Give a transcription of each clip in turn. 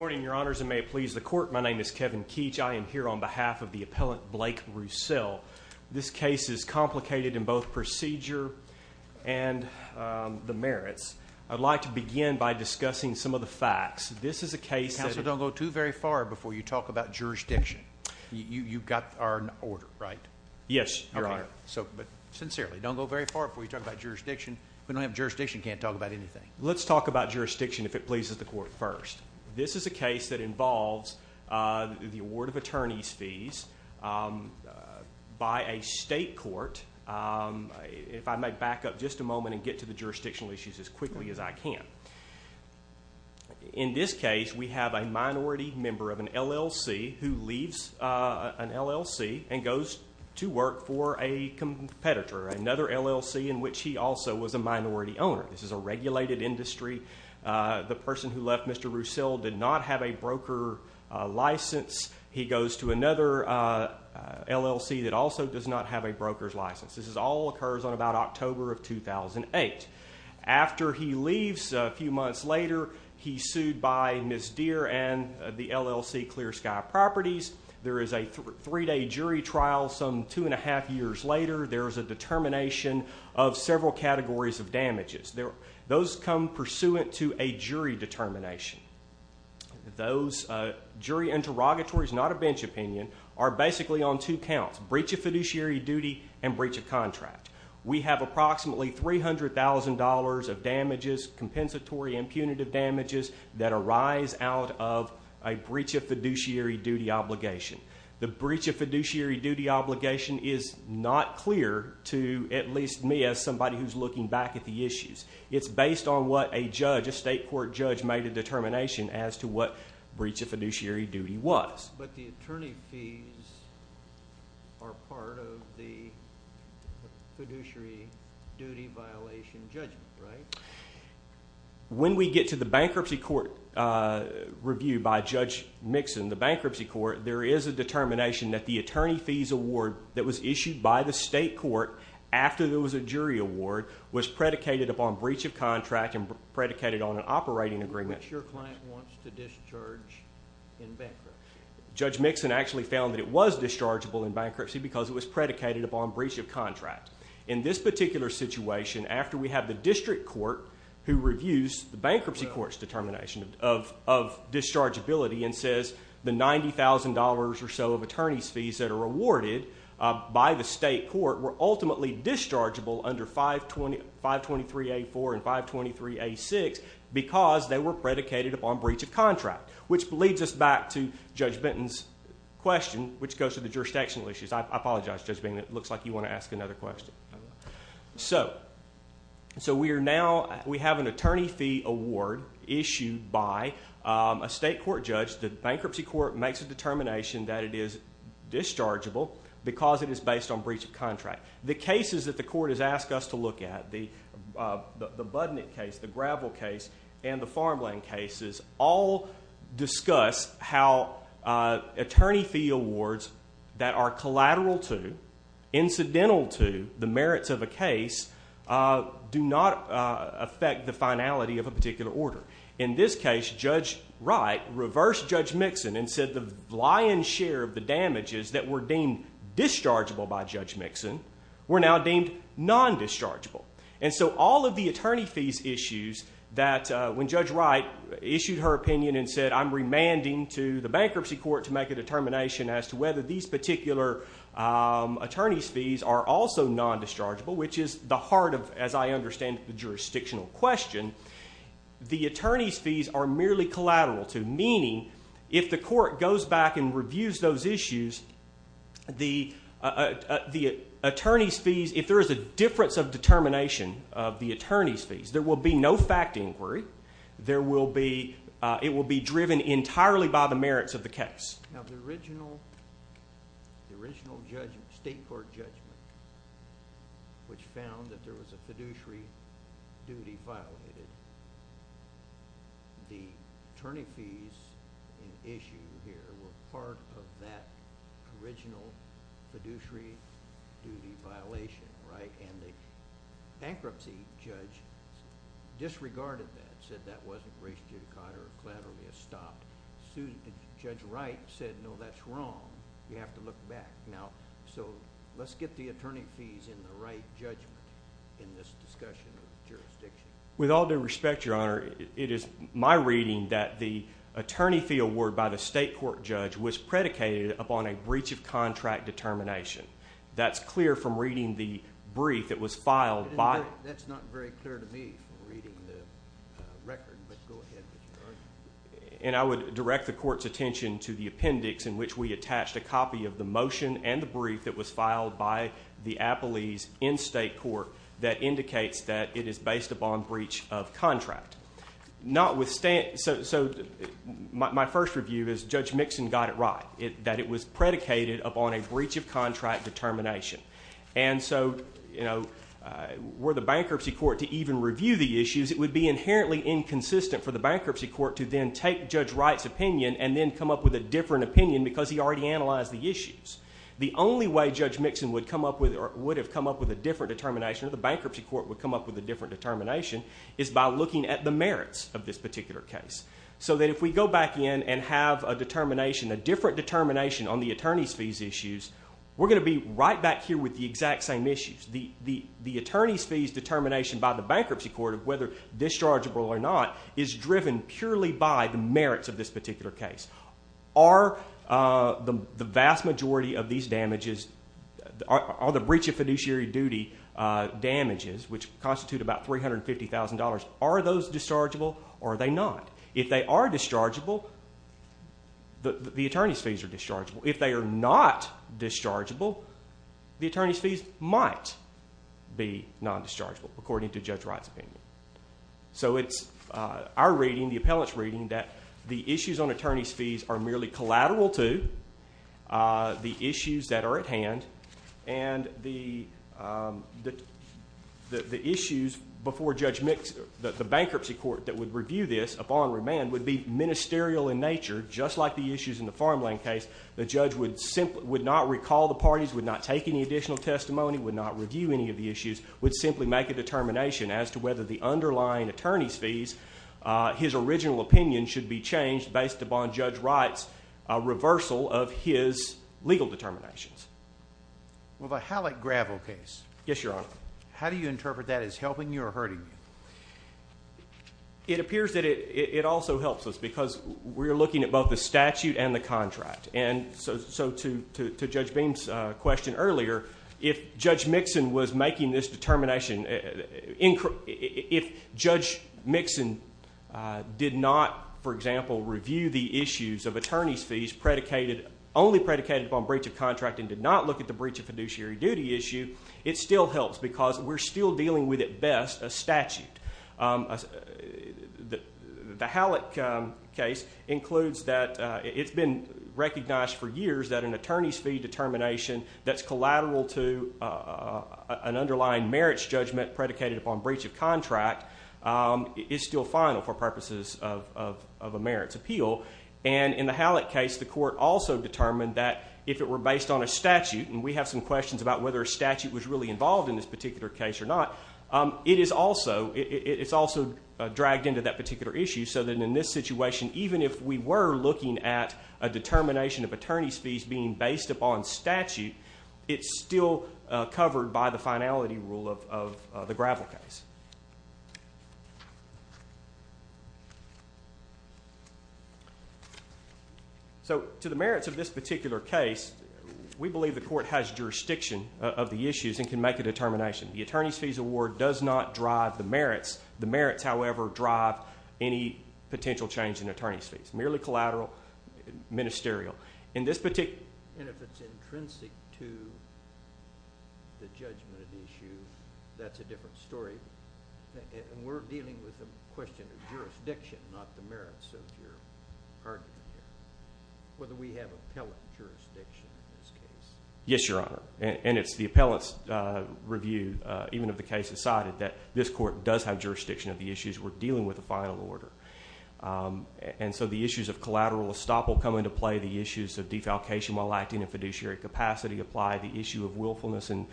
the court. My name is Kevin Keech. I am here on behalf of the appellant Blake Roussel. This case is complicated in both procedure and the merits. I'd like to begin by discussing some of the facts. This is a case that- Counselor, don't go too very far before you talk about jurisdiction. You've got our order, right? Yes, Your Honor. But sincerely, don't go very far before you talk about jurisdiction. We don't have jurisdiction, can't talk about jurisdiction. This is a case that involves the award of attorney's fees by a state court. If I may back up just a moment and get to the jurisdictional issues as quickly as I can. In this case, we have a minority member of an LLC who leaves an LLC and goes to work for a competitor, another LLC in which he also was a minority owner. This is a regulated industry. The person who left, Mr. Roussel, did not have a broker license. He goes to another LLC that also does not have a broker's license. This all occurs on about October of 2008. After he leaves, a few months later, he's sued by Ms. Deer and the LLC Clear Sky Properties. There is a three-day jury trial some two and a half years later. There's a outcome pursuant to a jury determination. Those jury interrogatories, not a bench opinion, are basically on two counts, breach of fiduciary duty and breach of contract. We have approximately $300,000 of damages, compensatory and punitive damages that arise out of a breach of fiduciary duty obligation. The breach of fiduciary duty obligation is not clear to at least me as somebody who's looking back at the issues. It's based on what a judge, a state court judge made a determination as to what breach of fiduciary duty was. But the attorney fees are part of the fiduciary duty violation judgment, right? When we get to the bankruptcy court review by Judge Mixon, the bankruptcy court, there is a determination that the attorney fees award that was issued by the state court after there was a jury award was predicated upon breach of contract and predicated on an operating agreement. Which your client wants to discharge in bankruptcy. Judge Mixon actually found that it was dischargeable in bankruptcy because it was predicated upon breach of contract. In this particular situation, after we have the district court who reviews the bankruptcy court's determination of dischargeability and says the $90,000 or so of attorney's fees that are awarded by the state court were ultimately dischargeable under 523A4 and 523A6 because they were predicated upon breach of contract. Which leads us back to Judge Benton's question, which goes to the jurisdictional issues. I apologize, Judge Benton. It looks like you want to ask another question. So we are now, we have an attorney fee award issued by a state court judge. The bankruptcy court makes a determination that it is dischargeable because it is based on breach of contract. The cases that the court has asked us to look at, the Budnick case, the Gravel case, and the Farmland cases, all discuss how attorney fee awards that are collateral to, incidental to the merits of a case, do not affect the finality of a particular order. In this case, Judge Wright reversed Judge Mixon and said the lion's share of the damages that were deemed dischargeable by Judge Mixon were now deemed non-dischargeable. And so all of the attorney fees issues that, when Judge Wright issued her opinion and said I'm remanding to the bankruptcy court to make a determination as to whether these particular attorney's fees are also non-dischargeable, which is the heart of, as I understand it, the jurisdictional question, the attorney's fees are merely collateral to, meaning if the court goes back and reviews those issues, the attorney's fees, if there is a difference of determination of the attorney's fees, there will be no fact inquiry. There will be, it will be driven entirely by the merits of the case. Now the original, the original judgment, state court judgment, which found that there was a fiduciary duty violated, the attorney fees in issue here were part of that original fiduciary duty violation, right? And the bankruptcy judge disregarded that, said that wasn't a fiduciary duty caught or collaterally stopped. Judge Wright said no, that's wrong. You have to look back. Now, so let's get the attorney fees in the right judgment in this discussion of jurisdiction. With all due respect, Your Honor, it is my reading that the attorney fee award by the state court judge was predicated upon a breach of contract determination. That's clear from reading the brief that was filed by... And I would direct the court's attention to the appendix in which we attached a copy of the motion and the brief that was filed by the appellees in state court that indicates that it is based upon breach of contract. Notwithstanding, so my first review is Judge Mixon got it right, that it was predicated upon a breach of contract determination. And so, you know, were the bankruptcy court to even review the issues, it would be inherently inconsistent for the bankruptcy court to then take Judge Wright's opinion and then come up with a different opinion because he already analyzed the issues. The only way Judge Mixon would come up with or would have come up with a different determination or the bankruptcy court would come up with a different determination is by looking at the merits of this particular case. So that if we go back in and have a determination, a different determination on the attorney's fees issues, we're going to be right back here with the exact same issues. The attorney's fees determination by the bankruptcy court whether dischargeable or not is driven purely by the merits of this particular case. Are the vast majority of these damages, all the breach of fiduciary duty damages, which constitute about $350,000, are those dischargeable or are they not? If they are dischargeable, the attorney's fees are dischargeable. If they are not dischargeable, the attorney's fees might be non-dischargeable according to Judge Wright's opinion. So it's our reading, the appellant's reading that the issues on attorney's fees are merely collateral to the issues that are at hand and the issues before Judge Mixon, the bankruptcy court that would review this upon remand would be ministerial in nature just like the issues in the farmland case. The judge would not recall the parties, would not take any additional testimony, would not review any of the issues, would simply make a determination as to whether the underlying attorney's fees, his original opinion, should be changed based upon Judge Wright's reversal of his legal determinations. Well, the Halleck gravel case, how do you interpret that as helping you or hurting you? It appears that it also helps us because we're looking at both the statute and the contract. And so to Judge Beam's question earlier, if Judge Mixon was making this determination, if Judge Mixon did not, for example, review the issues of attorney's fees predicated, only predicated upon breach of contract and did not look at the breach of fiduciary duty issue, it still helps because we're still dealing with at best a recognized for years that an attorney's fee determination that's collateral to an underlying merits judgment predicated upon breach of contract is still final for purposes of a merits appeal. And in the Halleck case, the court also determined that if it were based on a statute, and we have some questions about whether a statute was really involved in this particular case or not, it is also dragged into that particular issue so that in this case, even though we're looking at a determination of attorney's fees being based upon statute, it's still covered by the finality rule of the gravel case. So to the merits of this particular case, we believe the court has jurisdiction of the issues and can make a determination. The attorney's fees award does not drive the merits. The merits, however, drive any potential change in attorney's fees. Merely collateral, ministerial. In this particular... And if it's intrinsic to the judgment of the issue, that's a different story. And we're dealing with a question of jurisdiction, not the merits of your argument here. Whether we have appellate jurisdiction in this case. Yes, Your Honor. And it's the appellate's review, even if the case is cited, that this court has jurisdiction of the issues. We're dealing with a final order. And so the issues of collateral estoppel come into play. The issues of defalcation while acting in fiduciary capacity apply. The issue of willfulness and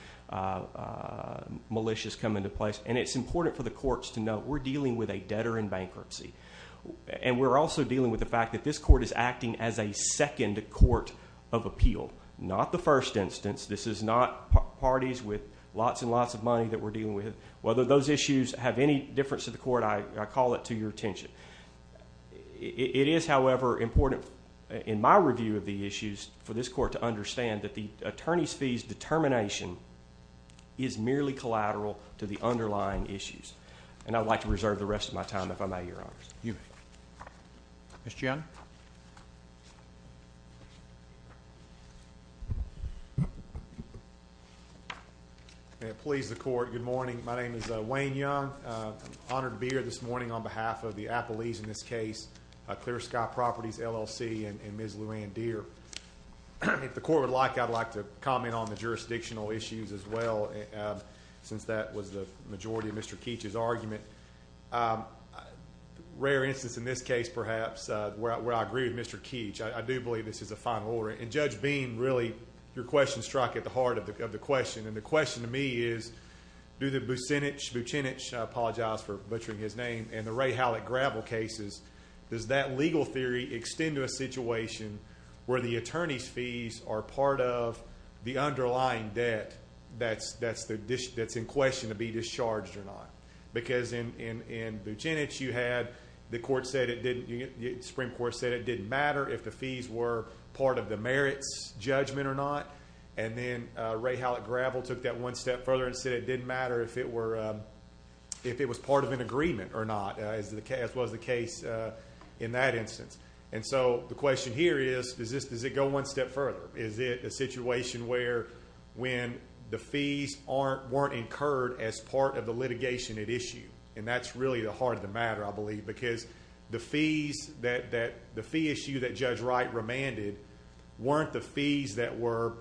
malicious come into place. And it's important for the courts to know we're dealing with a debtor in bankruptcy. And we're also dealing with the fact that this court is acting as a second court of appeal, not the first instance. This is not parties with lots and lots of money that we're dealing with. Whether those issues have any difference to the court, I call it to your attention. It is, however, important in my review of the issues for this court to understand that the attorney's fees determination is merely collateral to the underlying issues. And I'd like to reserve the rest of my time, if I may, Your Honor. You may. Ms. Gianna? May it please the court, good morning. My name is Wayne Young. I'm honored to be here this morning on behalf of the Appalachian, in this case, Clear Sky Properties, LLC, and Ms. Luann Deer. If the court would like, I'd like to comment on the jurisdictional issues as well, since that was the majority of Mr. Keech's argument. A rare instance in this case, perhaps, where I agree with Mr. Keech. I do believe this is a final order. And Judge Bean, really, your question struck at the heart of the question. And the question to me is, do the Bucinich, I apologize for butchering his name, and the Ray Hallett gravel cases, does that legal theory extend to a situation where the attorney's fees are part of the underlying debt that's in question to be discharged or not? Because in Bucinich, you had the Supreme Court said it didn't matter if the fees were part of the merits judgment or not. And then Ray Hallett gravel took that one step further and said it didn't matter if it was part of an agreement or not, as was the case in that instance. And so the question here is, does it go one step further? Is it a situation where when the fees weren't incurred as part of the litigation at issue? And that's really the heart of the matter, I believe, because the fee issue that Judge Wright remanded weren't the fees that were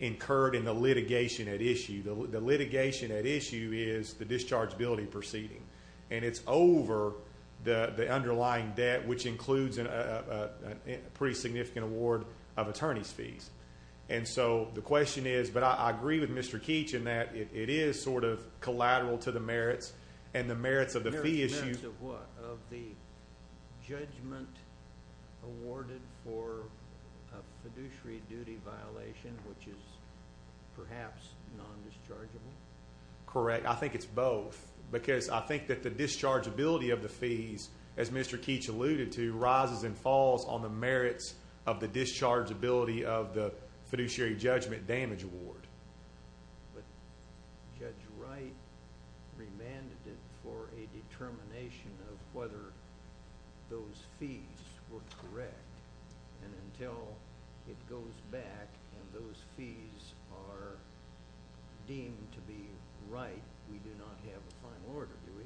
incurred in the litigation at issue. The litigation at issue is the dischargeability proceeding. And it's over the underlying debt, which includes a pretty significant award of attorney's fees. And so the question is, but I agree with Mr. Keech in that it is sort of collateral to the merits and the merits of the fee issue. Merits of what? Of the judgment awarded for a fiduciary duty violation, which is perhaps non-dischargeable? Correct. I think it's both. Because I think that the dischargeability of the fees, as Mr. Keech alluded to, rises and falls on the merits of the dischargeability of the fiduciary judgment damage award. But Judge Wright remanded it for a determination of whether those fees were correct. And until it goes back and those fees are deemed to be right, we do not have a final order, do we?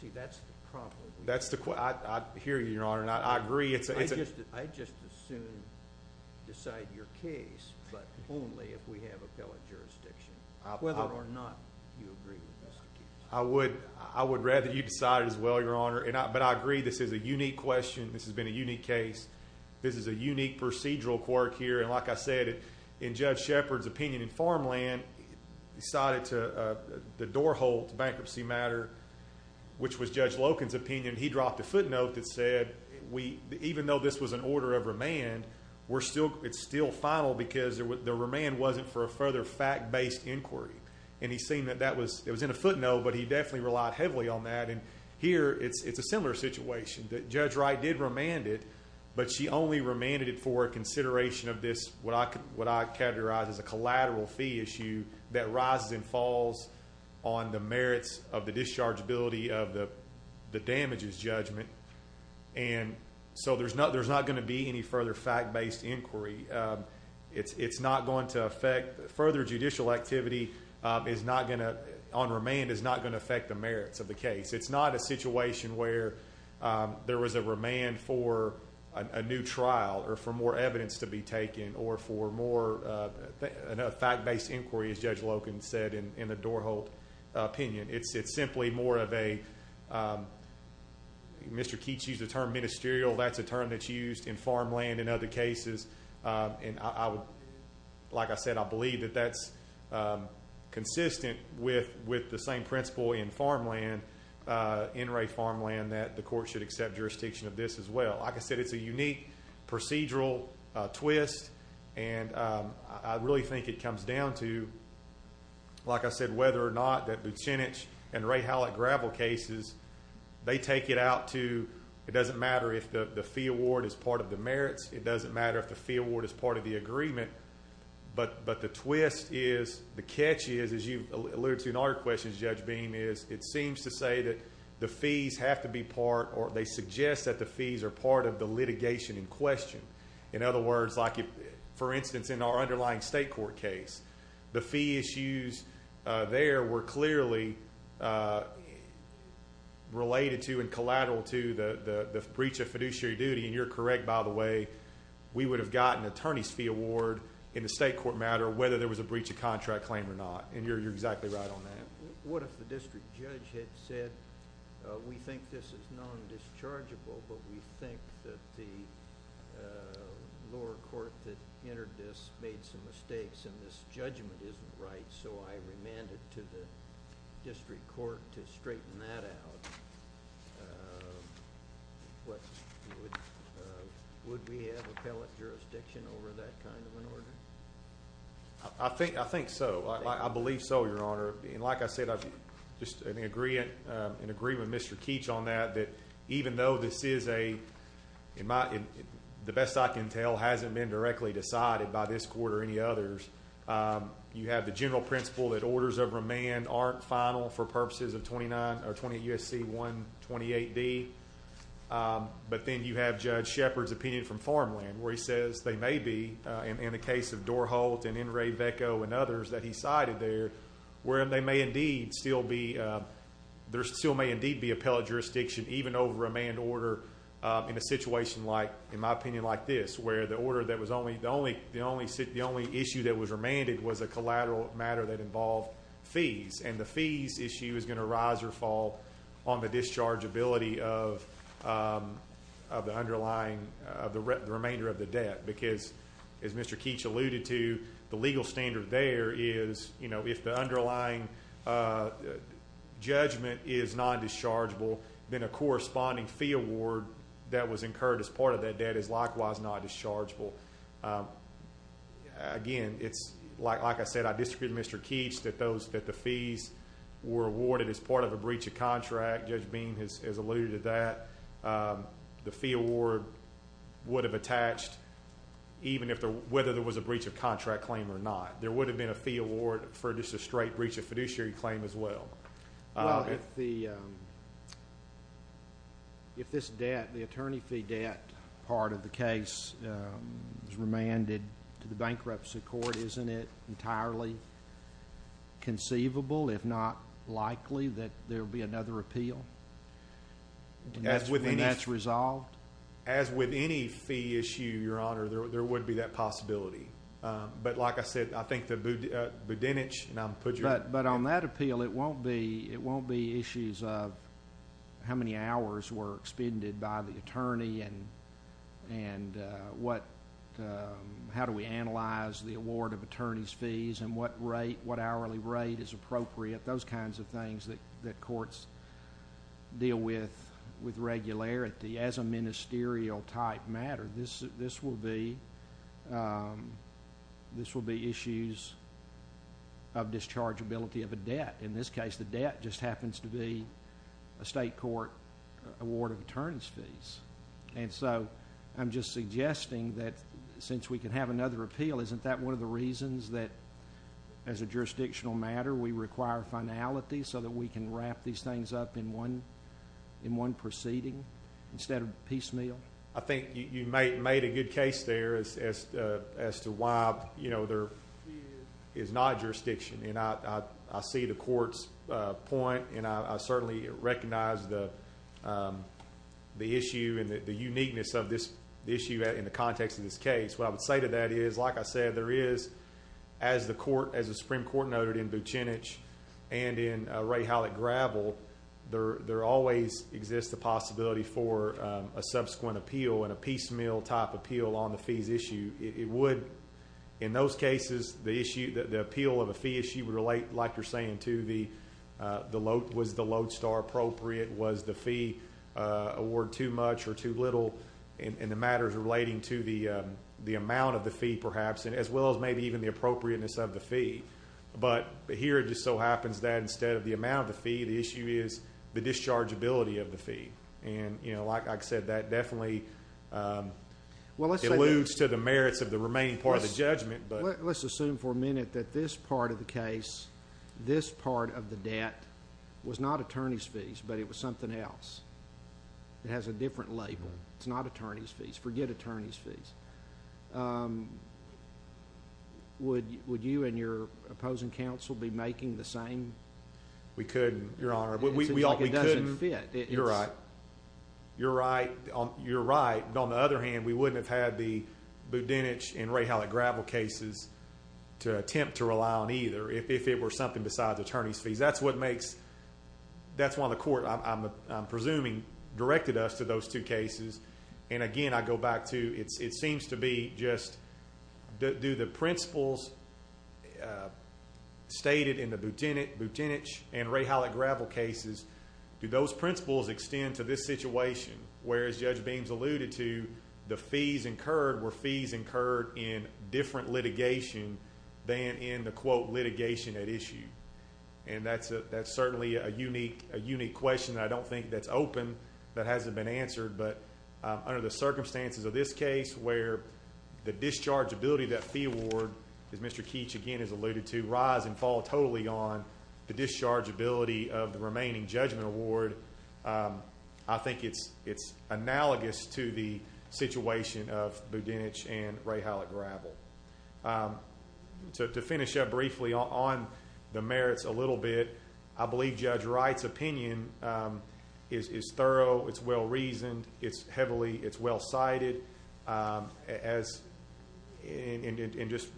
See, that's the problem. I hear you, Your Honor. And I agree. I'd just as soon decide your case, but only if we have appellate jurisdiction. Whether or not you agree with Mr. Keech. I would rather you decide it as well, Your Honor. But I agree this is a unique question. This has been a unique case. This is a unique procedural quirk here. And like I said, in Judge Shepard's opinion in farmland, he cited the doorhole to bankruptcy matter, which was in Judge Loken's opinion, he dropped a footnote that said, even though this was an order of remand, it's still final because the remand wasn't for a further fact-based inquiry. And he seemed that that was, it was in a footnote, but he definitely relied heavily on that. And here, it's a similar situation. Judge Wright did remand it, but she only remanded it for a consideration of this, what I categorize as a collateral fee issue, that rises and the damage is judgment. And so there's not going to be any further fact-based inquiry. It's not going to affect, further judicial activity is not going to, on remand, is not going to affect the merits of the case. It's not a situation where there was a remand for a new trial or for more evidence to be taken or for more, a fact-based inquiry, as Judge Mr. Keech used the term ministerial. That's a term that's used in farmland in other cases. And I would, like I said, I believe that that's consistent with the same principle in farmland, in Wray farmland, that the court should accept jurisdiction of this as well. Like I said, it's a unique procedural twist. And I really think it comes down to, like I said, whether or not that Bucinich and Wray-Hallett gravel cases, they take it out to, it doesn't matter if the fee award is part of the merits. It doesn't matter if the fee award is part of the agreement. But the twist is, the catch is, as you alluded to in other questions, Judge Beam, is it seems to say that the fees have to be part, or they suggest that the fees are part of the litigation in question. In other words, like for instance, in our case, there were clearly related to and collateral to the breach of fiduciary duty. And you're correct, by the way, we would have gotten an attorney's fee award in the state court matter, whether there was a breach of contract claim or not. And you're exactly right on that. What if the district judge had said, we think this is non-dischargeable, but we think that the lower court that entered this made some mistakes and this judgment isn't right, so I remanded to the district court to straighten that out. Would we have appellate jurisdiction over that kind of an order? I think so. I believe so, Your Honor. And like I said, I just agree with Mr. Keech on that, that even though this is a, the best I can tell, hasn't been directly decided by this court or any others. You have the general principle that orders of remand aren't final for purposes of 28 U.S.C. 128D. But then you have Judge Shepard's opinion from Farmland, where he says they may be, in the case of Dorholt and N. Ray Vecco and others that he cited there, where they may indeed still be, there still may indeed be appellate jurisdiction even over a remand order in a situation like, in my opinion, like this, where the order that was only, the only issue that was remanded was a collateral matter that involved fees. And the fees issue is going to rise or fall on the dischargeability of the underlying, of the remainder of the debt. Because as Mr. Keech alluded to, the legal standard there is, you know, if the underlying judgment is non-dischargeable, then a corresponding fee award that was incurred as part of that debt is likewise non-dischargeable. Again, it's, like I said, I disagree with Mr. Keech that those, that the fees were awarded as part of a breach of contract. Judge Beam has alluded to that. The fee award would have attached even if the, whether there was a breach of contract claim or not. There would have been a fee award for just a straight breach of contract. If this debt, the attorney fee debt part of the case was remanded to the bankruptcy court, isn't it entirely conceivable, if not likely, that there will be another appeal? And that's when that's resolved? As with any fee issue, Your Honor, there would be that possibility. But like I said, I think that Budenich, and I'll put your... But on that appeal, it won't be, it won't be issues of how many hours were expended by the attorney and what, how do we analyze the award of attorney's fees and what rate, what hourly rate is appropriate, those kinds of things that courts deal with, with regularity as a ministerial type matter. This will be, this will be issues of dischargeability of a debt. In this case, the debt just happens to be a state court award of attorney's fees. And so, I'm just suggesting that since we can have another appeal, isn't that one of the reasons that as a jurisdictional matter, we require finality so that we can wrap these things up in one, in one proceeding instead of piecemeal? I think you made a good case there as to why, you know, there is not jurisdiction. And I, I see the court's point, and I certainly recognize the, the issue and the uniqueness of this issue in the context of this case. What I would say to that is, like I said, there is, as the court, as the Supreme Court noted in Budenich and in Ray Howlett Gravel, there always exists a possibility for a subsequent appeal and a piecemeal type appeal on the fees issue. It would, in those cases, the issue, the appeal of a fee issue would relate, like you're saying, to the, the load, was the load star appropriate? Was the fee award too much or too little? And the matters relating to the, the amount of the fee perhaps, as well as maybe even the appropriateness of the fee. But here it just so happens that instead of the amount of the fee, the issue is the dischargeability of the fee. And, you know, like I said, that definitely eludes to the merits of the remaining part of the judgment, but. Let's assume for a minute that this part of the case, this part of the debt, was not attorney's fees, but it was something else. It has a different label. It's not attorney's fees. Forget attorney's fees. Would, would you and your opposing counsel be making the same? We couldn't, Your Honor. We all, we couldn't. It doesn't fit. You're right. You're right. You're right. But on the other hand, we wouldn't have had the Boutenich and Rahalic Gravel cases to attempt to rely on either, if it were something besides attorney's fees. That's what makes, that's why the court, I'm presuming, directed us to those two cases. And again, I go back to, it seems to be just, do the principles stated in the Boutenich and Rahalic Gravel cases, do those principles extend to this situation? Whereas Judge Beams alluded to the fees incurred were fees incurred in different litigation than in the quote, litigation at issue. And that's certainly a unique, a unique question that I don't think that's open, that hasn't been answered. But under the circumstances of this case, where the dischargeability of that fee award, as Mr. Keech again has alluded to, rise and fall totally on the dischargeability of the situation of Boutenich and Rahalic Gravel. To finish up briefly on the merits a little bit, I believe Judge Wright's opinion is thorough, it's well reasoned, it's heavily, it's well cited, and just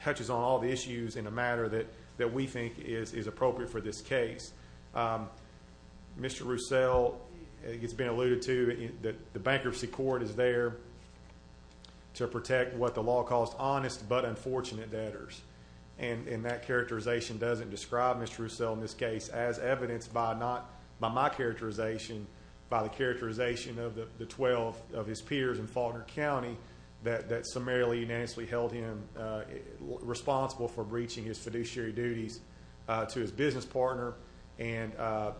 touches on all the issues in the matter that we think is appropriate for this case. Mr. Roussell, it's been stated that the literacy court is there to protect what the law calls honest but unfortunate debtors. And that characterization doesn't describe Mr. Roussell in this case as evidenced by not, by my characterization, by the characterization of the 12 of his peers in Faulkner County that summarily unanimously held him responsible for breaching his fiduciary duties to his business partner, and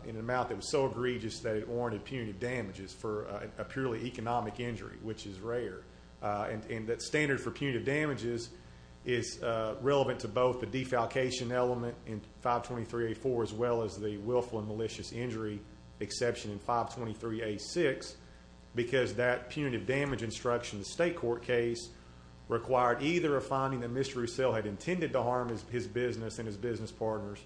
in an amount that was so egregious that it warranted punitive damages for a purely economic injury, which is rare. And that standard for punitive damages is relevant to both the defalcation element in 523A4 as well as the willful and malicious injury exception in 523A6, because that punitive damage instruction in the state court case required either a finding that Mr. Roussell had intended to harm his business and his business partners,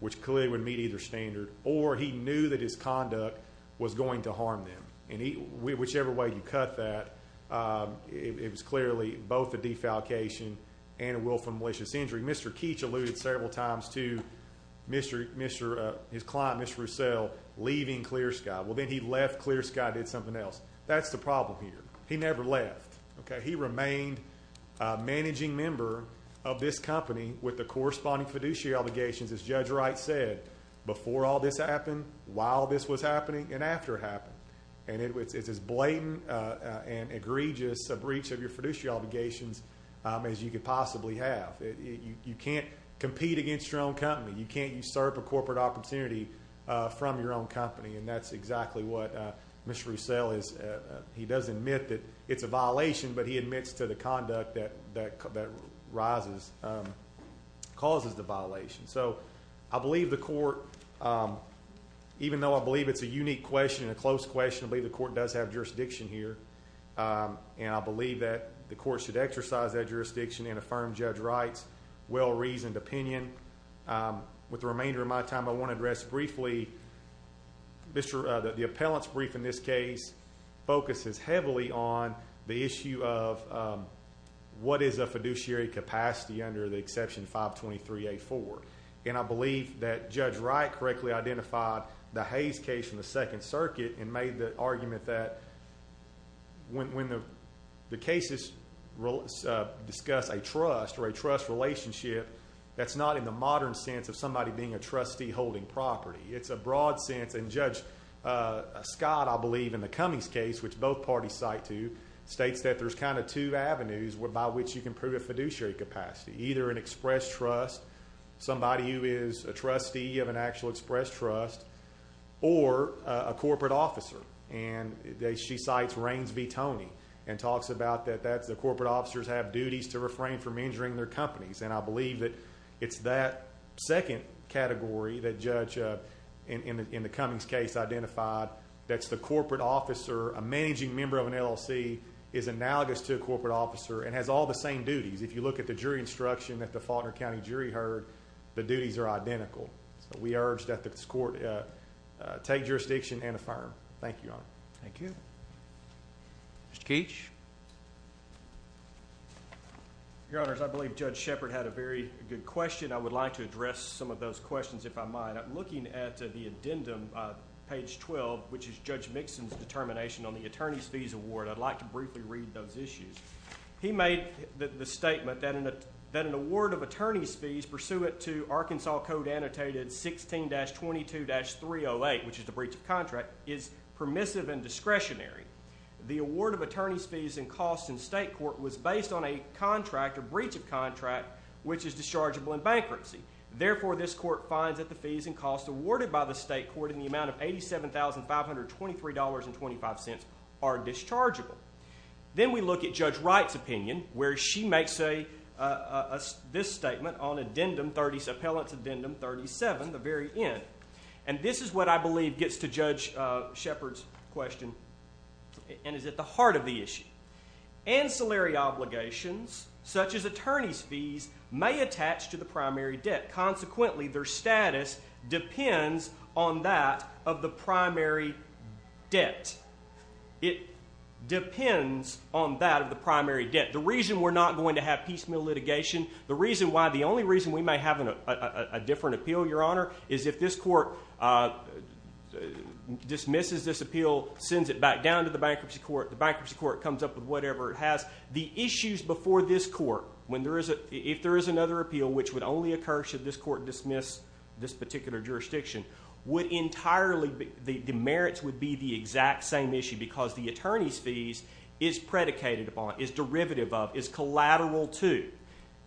which clearly would meet either standard, or he knew that his conduct was going to harm them. Whichever way you cut that, it was clearly both a defalcation and a willful and malicious injury. Mr. Keech alluded several times to his client, Mr. Roussell, leaving Clear Sky. Well, then he left Clear Sky and did something else. That's the problem here. He never left. He remained a managing member of this company with the corresponding fiduciary obligations, as Judge Wright said, before all this happened, while this was happening, and after it happened. And it's as blatant and egregious a breach of your fiduciary obligations as you could possibly have. You can't compete against your own company. You can't usurp a corporate opportunity from your own company, and that's exactly what Mr. Roussell is. He does admit that it's a violation, but he still rises, causes the violation. So I believe the court, even though I believe it's a unique question and a close question, I believe the court does have jurisdiction here, and I believe that the court should exercise that jurisdiction and affirm Judge Wright's well-reasoned opinion. With the remainder of my time, I want to address briefly the appellant's brief in this under the exception 523A4. And I believe that Judge Wright correctly identified the Hayes case from the Second Circuit and made the argument that when the cases discuss a trust or a trust relationship, that's not in the modern sense of somebody being a trustee holding property. It's a broad sense, and Judge Scott, I believe, in the Cummings case, which both parties cite to, states that there's kind of two avenues by which you can prove a fiduciary capacity, either an express trust, somebody who is a trustee of an actual express trust, or a corporate officer. And she cites Raines v. Toney and talks about that the corporate officers have duties to refrain from injuring their companies. And I believe that it's that second category that Judge, in the Cummings case, identified that's the corporate officer, a managing member of an LLC, is analogous to a corporate officer and has all the same duties. If you look at the jury instruction that the Faulkner County jury heard, the duties are identical. So we urge that this court take jurisdiction and affirm. Thank you, Your Honor. Thank you. Mr. Keech? Your Honors, I believe Judge Shepard had a very good question. I would like to page 12, which is Judge Mixon's determination on the attorney's fees award. I'd like to briefly read those issues. He made the statement that an award of attorney's fees pursuant to Arkansas Code Annotated 16-22-308, which is the breach of contract, is permissive and discretionary. The award of attorney's fees and costs in state court was based on a contract, a breach of contract, which is dischargeable in bankruptcy. Therefore, this court finds that the fees and costs awarded by the state court in the amount of $87,523.25 are dischargeable. Then we look at Judge Wright's opinion, where she makes this statement on Appellant's Addendum 37, the very end. And this is what I believe gets to Judge Shepard's question and is at the heart of the issue. Ancillary obligations, such as attorney's fees, may attach to the primary debt. Consequently, their status depends on that of the primary debt. It depends on that of the primary debt. The reason we're not going to have piecemeal litigation, the reason why, the only reason we may have a different appeal, Your Honor, is if this court dismisses this appeal, sends it back down to the bankruptcy court, the bankruptcy court comes up with whatever it has. The issues before this court dismiss this particular jurisdiction would entirely, the merits would be the exact same issue because the attorney's fees is predicated upon, is derivative of, is collateral to,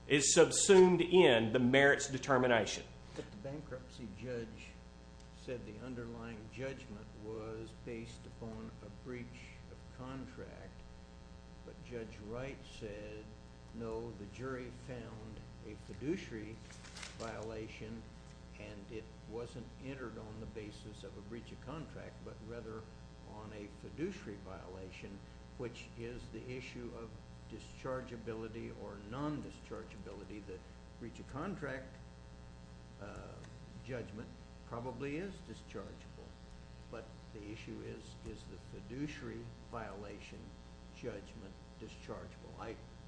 is subsumed in the merits determination. But the bankruptcy judge said the underlying judgment was based upon a and it wasn't entered on the basis of a breach of contract, but rather on a fiduciary violation, which is the issue of dischargeability or non-dischargeability. The breach of contract judgment probably is dischargeable, but the issue is, is the fiduciary violation judgment dischargeable?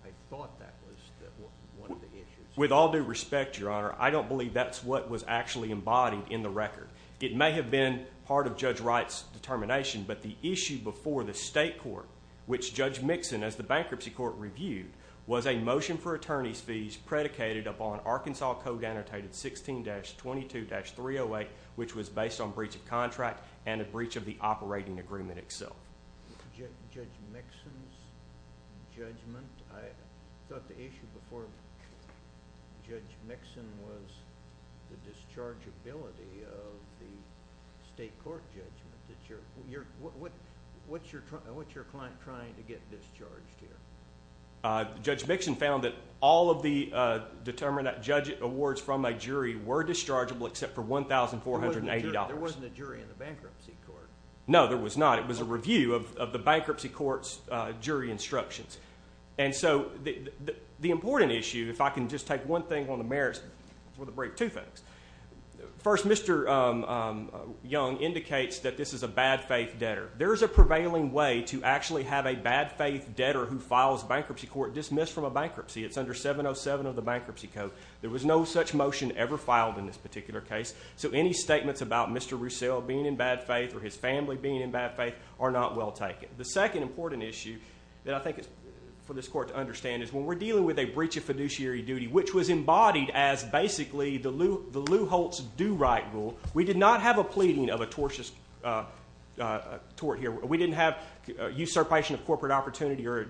I thought that was one of the issues. With all due respect, Your Honor, I don't believe that's what was actually embodied in the record. It may have been part of Judge Wright's determination, but the issue before the state court, which Judge Mixon, as the bankruptcy court, reviewed, was a motion for attorney's fees predicated upon Arkansas Code Annotated 16-22-308, which was based on breach of contract and a breach of the operating agreement itself. Judge Mixon's judgment? I thought the issue before Judge Mixon was the dischargeability of the state court judgment. What's your client trying to get discharged here? Judge Mixon found that all of the judge awards from a jury were dischargeable except for $1,480. There wasn't a jury in the bankruptcy court. No, there was not. It was a review of the bankruptcy court's jury instructions. And so the important issue, if I can just take one thing on the merits, before the break, two things. First, Mr. Young indicates that this is a bad faith debtor. There is a prevailing way to actually have a bad faith debtor who files bankruptcy court dismissed from a bankruptcy. It's under 707 of the Bankruptcy Code. There was no such motion ever filed in this particular case. So any statements about Mr. Roussel being in bad faith or his family being in bad faith are not well taken. The second important issue that I think is for this court to understand is when we're dealing with a breach of fiduciary duty, which was embodied as basically the Lew Holtz do-right rule, we did not have a pleading of a tort here. We didn't have usurpation of corporate opportunity or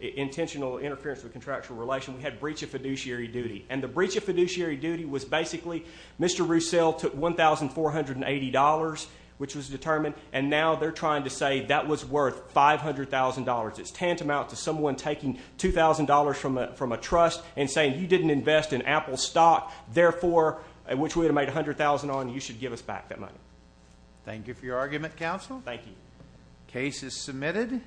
intentional interference with contractual relation. We had breach of fiduciary duty. And the breach of fiduciary duty was basically Mr. Roussel took $1,480, which was determined, and now they're trying to say that was worth $500,000. It's tantamount to someone taking $2,000 from a trust and saying, you didn't invest in Apple stock, therefore, which we would have made $100,000 on, you should give us back that money. Thank you for your argument, counsel. Thank you. Case is submitted.